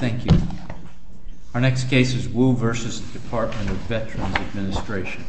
Thank you. Our next case is Wu v. Department of Veterans Administration.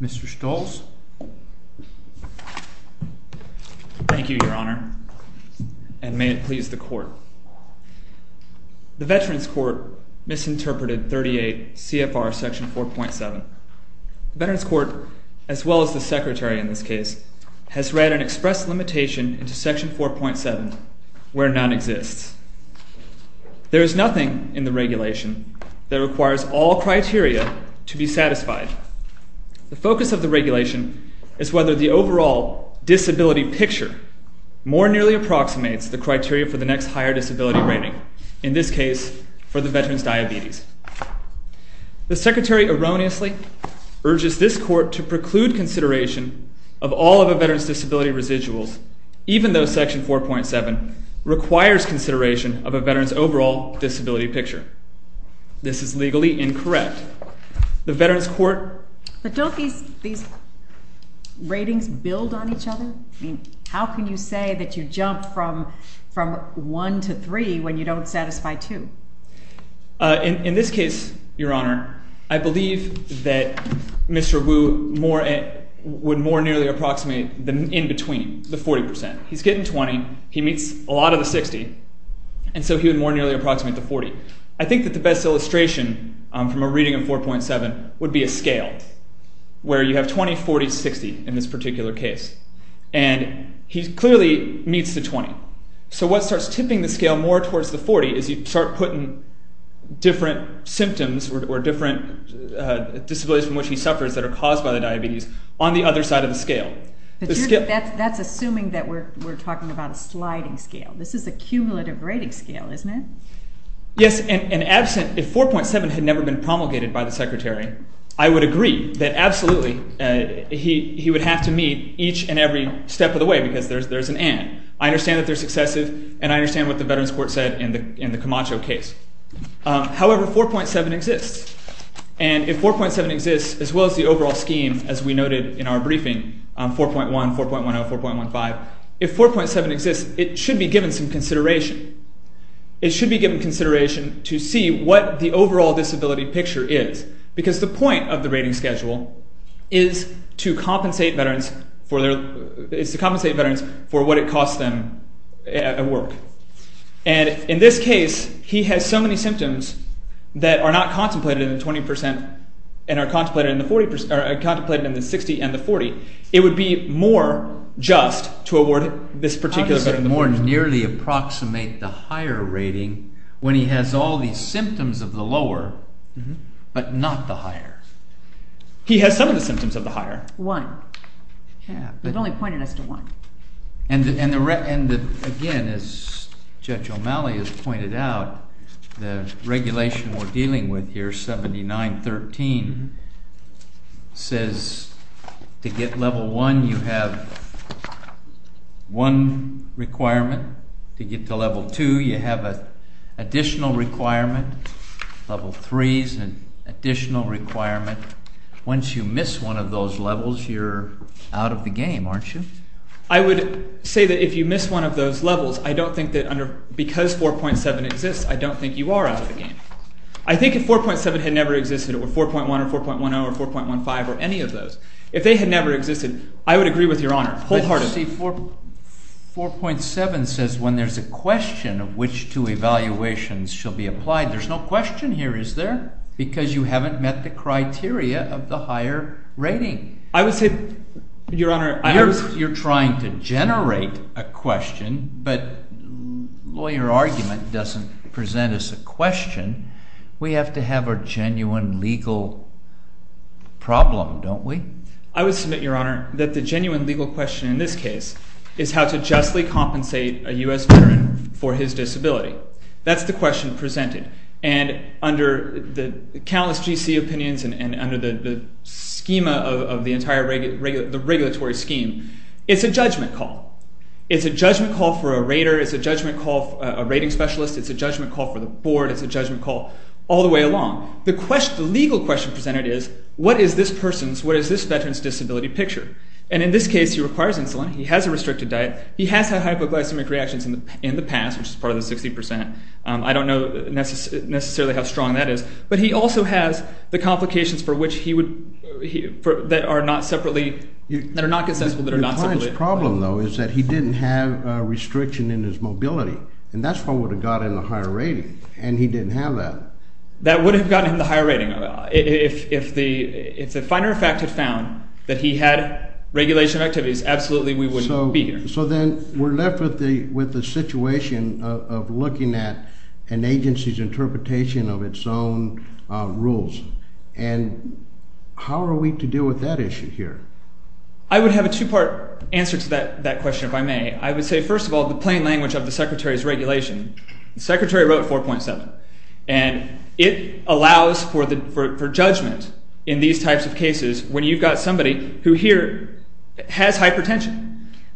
Mr. Stolz? Thank you, Your Honor, and may it please the Court. The Veterans Court misinterpreted 38 CFR Section 4.7. The Veterans Court, as well as the Secretary in this case, has read an express limitation into Section 4.7 where none exists. There is nothing in the regulation that requires all criteria to be satisfied. The focus of the regulation is whether the overall disability picture more nearly approximates the criteria for the next higher disability rating, in this case, for the veteran's diabetes. The Secretary erroneously urges this Court to preclude consideration of all of a veteran's disability residuals, even though Section 4.7 requires consideration of a veteran's overall disability picture. This is legally incorrect. The Veterans Court… These ratings build on each other? How can you say that you jumped from 1 to 3 when you don't satisfy 2? In this case, Your Honor, I believe that Mr. Wu would more nearly approximate the in-between, the 40 percent. He's getting 20, he meets a lot of the 60, and so he would more nearly approximate the 40. I think that the best illustration from a reading of 4.7 would be a scale, where you have 20, 40, 60 in this particular case, and he clearly meets the 20. So what starts tipping the scale more towards the 40 is you start putting different symptoms or different disabilities from which he suffers that are caused by the diabetes on the other side of the scale. That's assuming that we're talking about a sliding scale. This is a cumulative rating scale, isn't it? Yes, and absent… If 4.7 had never been promulgated by the Secretary, I would agree that absolutely he would have to meet each and every step of the way, because there's an and. I understand that they're successive, and I understand what the Veterans Court said in the Camacho case. However, 4.7 exists, and if 4.7 exists, as well as the overall scheme, as we noted in our briefing, 4.1, 4.10, 4.15, if 4.7 exists, it should be given some consideration. It should be given consideration to see what the overall disability picture is, because the point of the rating schedule is to compensate Veterans for what it costs them at work. And in this case, he has so many symptoms that are not contemplated in the 20% and are contemplated in the 60% and the 40%, it would be more just to award this particular veteran the 40. Veterans nearly approximate the higher rating when he has all these symptoms of the lower, but not the higher. He has some of the symptoms of the higher. One. He's only pointed us to one. And again, as Judge O'Malley has pointed out, the regulation we're dealing with here, 79.13, says to get level one, you have one requirement, one condition, and one requirement. To get to level two, you have an additional requirement. Level three is an additional requirement. Once you miss one of those levels, you're out of the game, aren't you? I would say that if you miss one of those levels, I don't think that because 4.7 exists, I don't think you are out of the game. I think if 4.7 had never existed, or 4.1 or 4.10 or 4.15 or any of those, if they had never existed, I would agree with Your Honor wholeheartedly. But you see, 4.7 says when there's a question of which two evaluations shall be applied, there's no question here, is there? Because you haven't met the criteria of the higher rating. I would say, Your Honor, I understand. You're trying to generate a question, but lawyer argument doesn't present us a question. We have to have a genuine legal problem, don't we? I would submit, Your Honor, that the genuine legal question in this case is how to justly compensate a U.S. veteran for his disability. That's the question presented. And under the countless GC opinions and under the schema of the entire regulatory scheme, it's a judgment call. It's a judgment call for a rater. It's a judgment call for a rating specialist. It's a judgment call for the board. It's a judgment call all the way along. The legal question presented is what is this person's, what is this veteran's disability picture? And in this case, he requires insulin. He has a restricted diet. He has had hypoglycemic reactions in the past, which is part of the 60%. I don't know necessarily how strong that is. But he also has the complications for which he would, that are not separately, that are not consensual, that are not separate. The client's problem, though, is that he didn't have a restriction in his mobility. And that's how it would have gotten him a higher rating. And he didn't have that. That would have gotten him the higher rating. If the finer fact had found that he had regulation activities, absolutely we wouldn't be here. So then we're left with the situation of looking at an agency's interpretation of its own rules. And how are we to deal with that issue here? I would have a two-part answer to that question, if I may. I would say, first of all, the plain is regulation. The Secretary wrote 4.7. And it allows for judgment in these types of cases when you've got somebody who here has hypertension.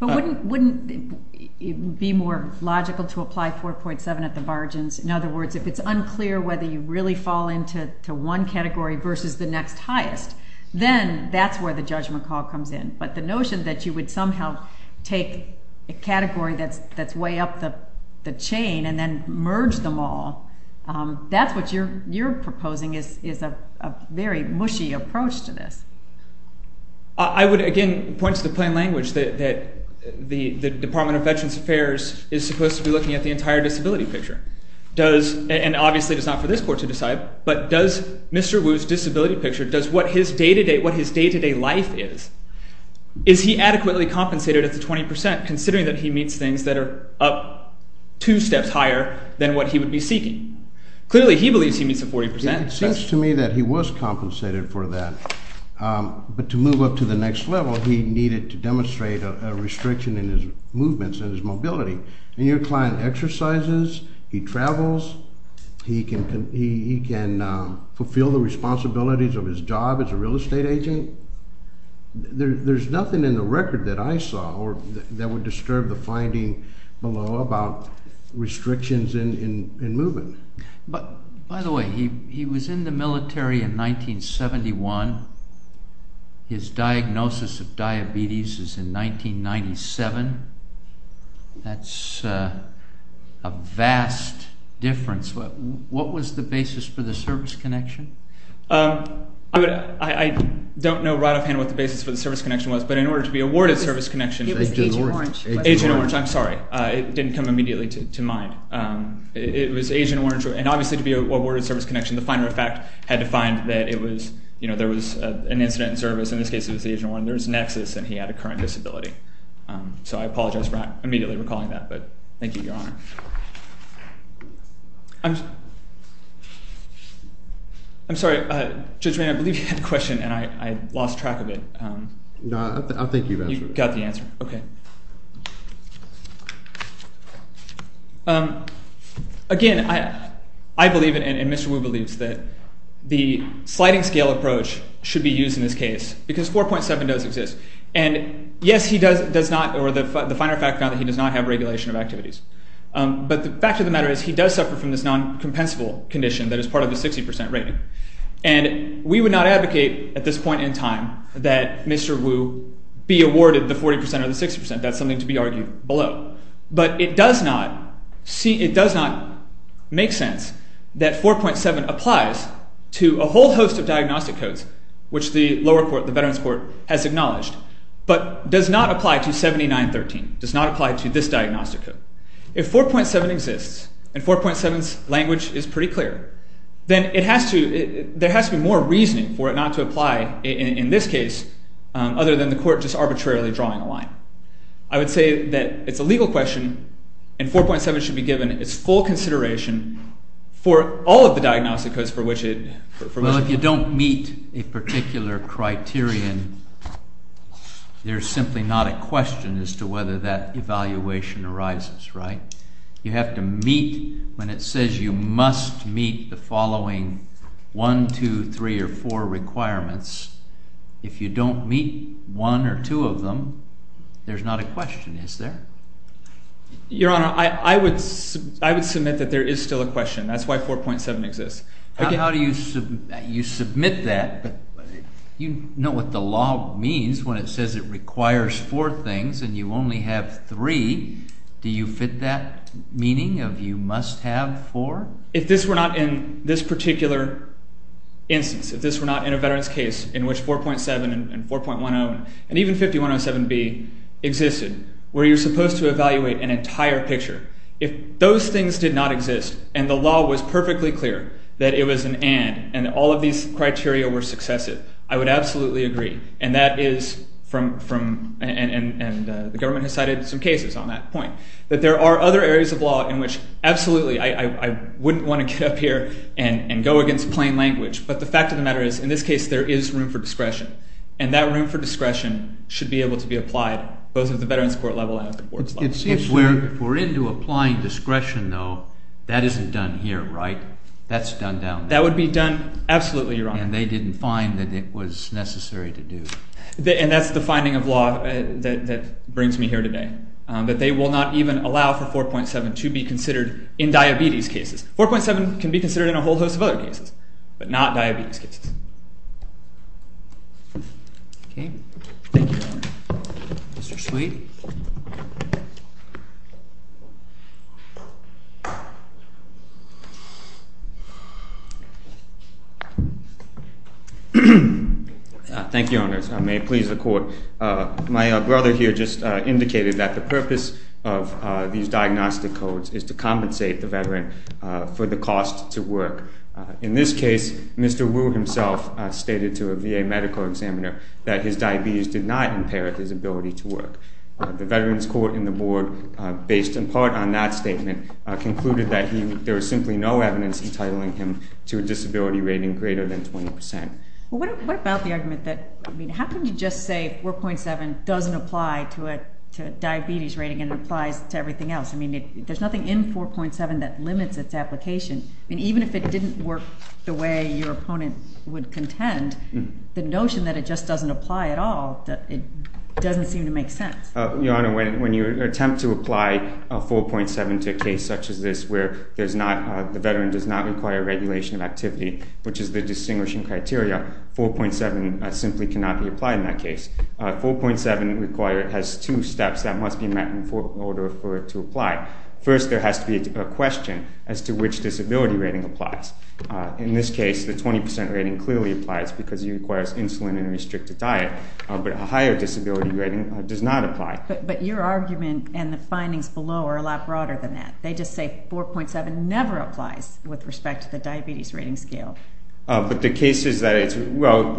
But wouldn't it be more logical to apply 4.7 at the margins? In other words, if it's unclear whether you really fall into one category versus the next highest, then that's where the judgment call comes in. But the notion that you would somehow take a category that's way up the chain and then merge them all, that's what you're proposing is a very mushy approach to this. I would, again, point to the plain language that the Department of Veterans Affairs is supposed to be looking at the entire disability picture. And obviously it's not for this court to decide, but does Mr. Wu's disability picture, does what his day-to-day life is, is he adequately compensated at the 20% considering that he meets things that are up two steps higher than what he would be seeking? Clearly, he believes he meets the 40%. It seems to me that he was compensated for that. But to move up to the next level, he needed to demonstrate a restriction in his movements and his mobility. And your client exercises, he travels, he can fulfill the responsibilities of his job as a real estate agent. There's nothing in the record that I saw that would disturb the finding below about restrictions in movement. By the way, he was in the military in 1971. His diagnosis of diabetes is in 1997. That's a vast difference. What was the basis for the service connection? I don't know right off hand what the basis for the service connection was, but in order to be awarded service connection... It was Agent Orange. Agent Orange, I'm sorry. It didn't come immediately to mind. It was Agent Orange, and obviously to be awarded service connection, the finer of fact had to find that it was, you know, there was an incident in service, in this case it was Agent Orange. There was a nexus and he had a current disability. So I apologize for not immediately recalling that, but thank you, Your Honor. I'm sorry, Judge Maynard, I believe you had a question and I lost track of it. No, I think you've answered it. You got the answer, okay. Again, I believe and Mr. Wu believes that the sliding scale approach should be used in this case because 4.7 does exist. And yes, he does not, or the finer of fact found that he does not have regulation of activities. But the fact of the matter is he does suffer from this non-compensable condition that is part of the 60% rating. And we would not advocate at this point in time that Mr. Wu be awarded the 40% or the 60%. That's something to be argued below. But it does not make sense that 4.7 applies to a whole host of diagnostic codes, which the lower court, the Veterans Court, has acknowledged, but does not apply to 7913, does not apply to this diagnostic code. If 4.7 exists and 4.7's language is pretty clear, then it has to, there has to be more reasoning for it not to apply in this case other than the court just arbitrarily drawing a line. I would say that it's a legal question and 4.7 should be given its full consideration for all of the diagnostic codes for which it. Well, if you don't meet a particular criterion, there's simply not a question as to whether that evaluation arises, right? You have to meet, when it says you must meet the following one, two, three, or four requirements, if you don't meet one or two of them, there's not a question, is there? Your Honor, I would submit that there is still a question. That's why 4.7 exists. How do you submit that? You know what the law means when it says it requires four things and you only have three, do you fit that meaning of you must have four? If this were not in this particular instance, if this were not in a veteran's case in which 4.7 and 4.10 and even 5107B existed, where you're supposed to evaluate an entire picture, if those things did not exist and the law was perfectly clear that it was an and and all of these criteria were successive, I would absolutely agree and that is from and the government has cited some cases on that point, that there are other areas of law in which absolutely I wouldn't want to get up here and go against plain language, but the fact of the matter is in this case there is room for discretion and that room for discretion should be able to be applied both at the veteran's court level and at the board level. If we're into applying discretion though, that isn't done here, right? That's done down there. That would be done absolutely, Your Honor. And they didn't find that it was necessary to do. And that's the finding of law that brings me here today, that they will not even allow for 4.7 to be considered in diabetes cases. 4.7 can be considered in a whole host of other cases, but not diabetes cases. Okay. Thank you, Your Honor. Mr. Sweet. Thank you, Your Honor. May it please the Court. My brother here just indicated that the purpose of these diagnostic codes is to compensate the veteran for the cost to work. In this case, Mr. Wu himself stated to a VA medical examiner that his diabetes did not impair his ability to work. The veteran's court and the board, based in part on that statement, concluded that there is simply no evidence entitling him to a disability rating greater than 20%. Well, what about the argument that, I mean, how can you just say 4.7 doesn't apply to a diabetes rating and it applies to everything else? I mean, there's nothing in 4.7 that limits its application. I mean, even if it didn't work the way your opponent would contend, the notion that it just doesn't apply at all, it doesn't seem to make sense. Your Honor, when you attempt to apply 4.7 to a case such as this where the veteran does not require regulation of activity, which is the distinguishing criteria, 4.7 simply cannot be applied in that case. 4.7 has two steps that must be met in order for it to apply. First, there has to be a question as to which disability rating applies. In this case, the 20% rating clearly applies because it requires insulin and a restricted diet, but a higher disability rating does not apply. But your argument and the findings below are a lot broader than that. They just say 4.7 never applies with respect to the diabetes rating scale. But the cases that it's, well,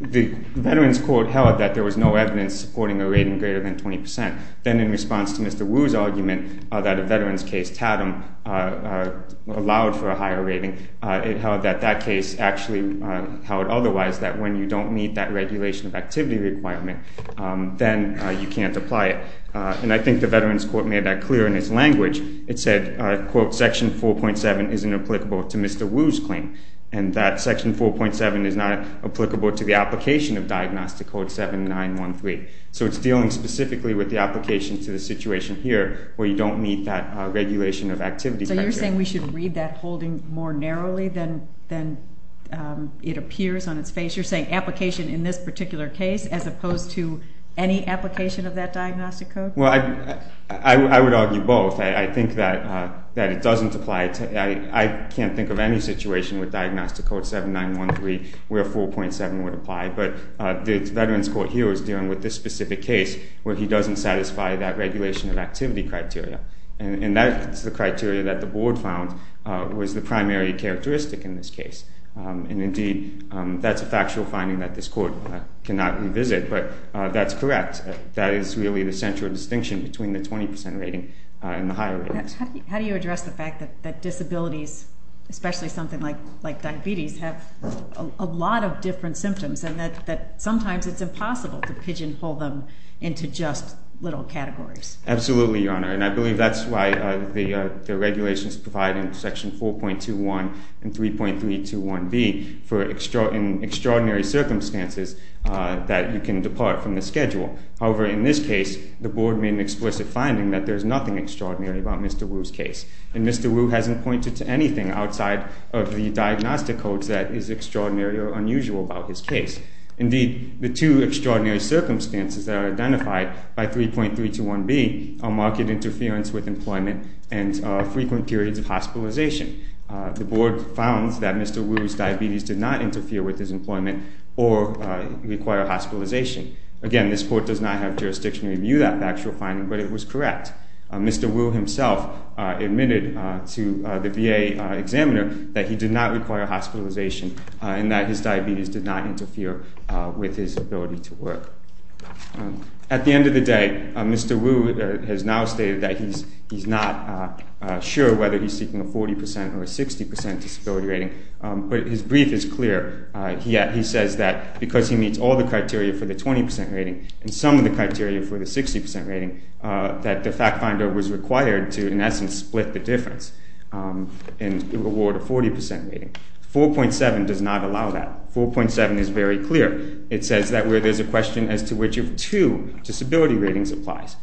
the veteran's court held that there was no evidence supporting a rating greater than 20%. Then in response to Mr. Wu's argument that a veteran's case, Tatum, allowed for a higher rating, it held that that case actually held otherwise, that when you don't meet that regulation of activity requirement, then you can't apply it. And I think the veteran's court made that clear in its language. It said, quote, Section 4.7 isn't applicable to Mr. Wu's claim. And that Section 4.7 is not applicable to the application of Diagnostic Code 7913. So it's dealing specifically with the application to the situation here where you don't meet that regulation of activity criteria. So you're saying we should read that holding more narrowly than it appears on its face? You're saying application in this particular case as opposed to any application of that Diagnostic Code? Well, I would argue both. I think that it doesn't apply. I can't think of any situation with Diagnostic Code 7913 where 4.7 would apply. But the veteran's court here is dealing with this specific case where he doesn't satisfy that regulation of activity criteria. And that's the criteria that the Board found was the primary characteristic in this case. And indeed, that's a factual finding that this court cannot revisit. But that's correct. That is really the central distinction between the 20% rating and the higher rating. How do you address the fact that disabilities, especially something like diabetes, have a lot of different symptoms and that sometimes it's impossible to pigeonhole them into just little categories? Absolutely, Your Honor. And I believe that's why the regulations provide in Section 4.21 and 3.321B for extraordinary circumstances that you can depart from the schedule. However, in this case, the Board made an explicit finding that there's nothing extraordinary about Mr. Wu's case. And Mr. Wu hasn't pointed to anything outside of the Diagnostic Code that is extraordinary or unusual about his case. Indeed, the two extraordinary circumstances that are identified by 3.321B are market interference with employment and frequent periods of hospitalization. The Board found that Mr. Wu's diabetes did not interfere with his employment or require hospitalization. Again, this court does not have jurisdiction to review that factual finding, but it was correct. Mr. Wu himself admitted to the VA examiner that he did not require hospitalization and that his diabetes did not interfere with his ability to work. At the end of the day, Mr. Wu has now stated that he's not sure whether he's seeking a 40% or a 60% disability rating, but his brief is clear. He says that because he meets all the criteria for the 20% rating and some of the criteria for the 60% rating, that the fact finder was required to, in essence, split the difference and award a 40% rating. 4.7 does not allow that. 4.7 is very clear. It says that where there's a question as to which of two disability ratings applies.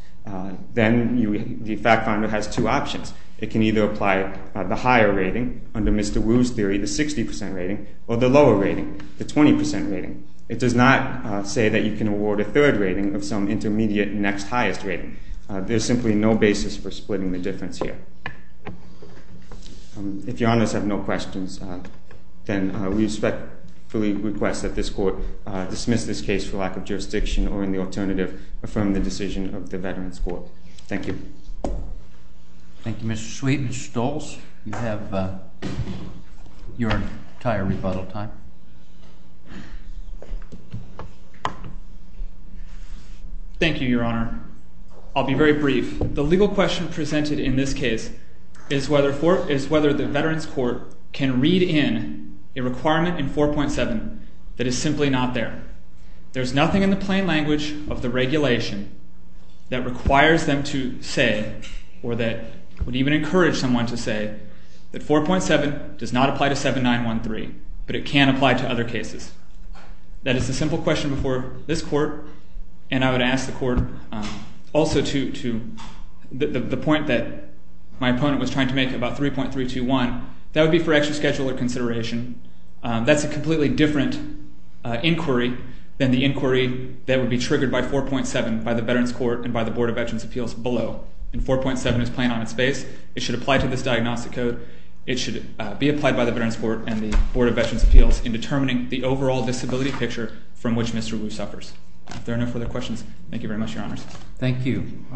Then the fact finder has two options. It can either apply the higher rating under Mr. Wu's theory, the 60% rating, or the lower rating, the 20% rating. It does not say that you can award a third rating of some intermediate next highest rating. There's simply no basis for splitting the difference here. If your honors have no questions, then we respectfully request that this court dismiss this case for lack of jurisdiction or, in the alternative, affirm the decision of the Veterans Court. Thank you. Thank you, Mr. Sweet and Mr. Stolz. You have your entire rebuttal time. Thank you, your honor. I'll be very brief. The legal question presented in this case is whether the Veterans Court can read in a requirement in 4.7 that is simply not there. There's nothing in the plain language of the regulation that requires them to say or that would even encourage someone to say that 4.7 does not apply to 7913, but it can apply to other cases. That is the simple question before this court, and I would ask the court also to the point that my opponent was trying to make about 3.321. That would be for extra schedule or consideration. That's a completely different inquiry than the inquiry that would be triggered by 4.7 by the Veterans Court and by the Board of Veterans' Appeals below. And 4.7 is plain on its face. It should apply to this diagnostic code. It should be applied by the Veterans Court and the Board of Veterans' Appeals in determining the overall disability picture from which Mr. Wu suffers. If there are no further questions, thank you very much, your honors. Thank you.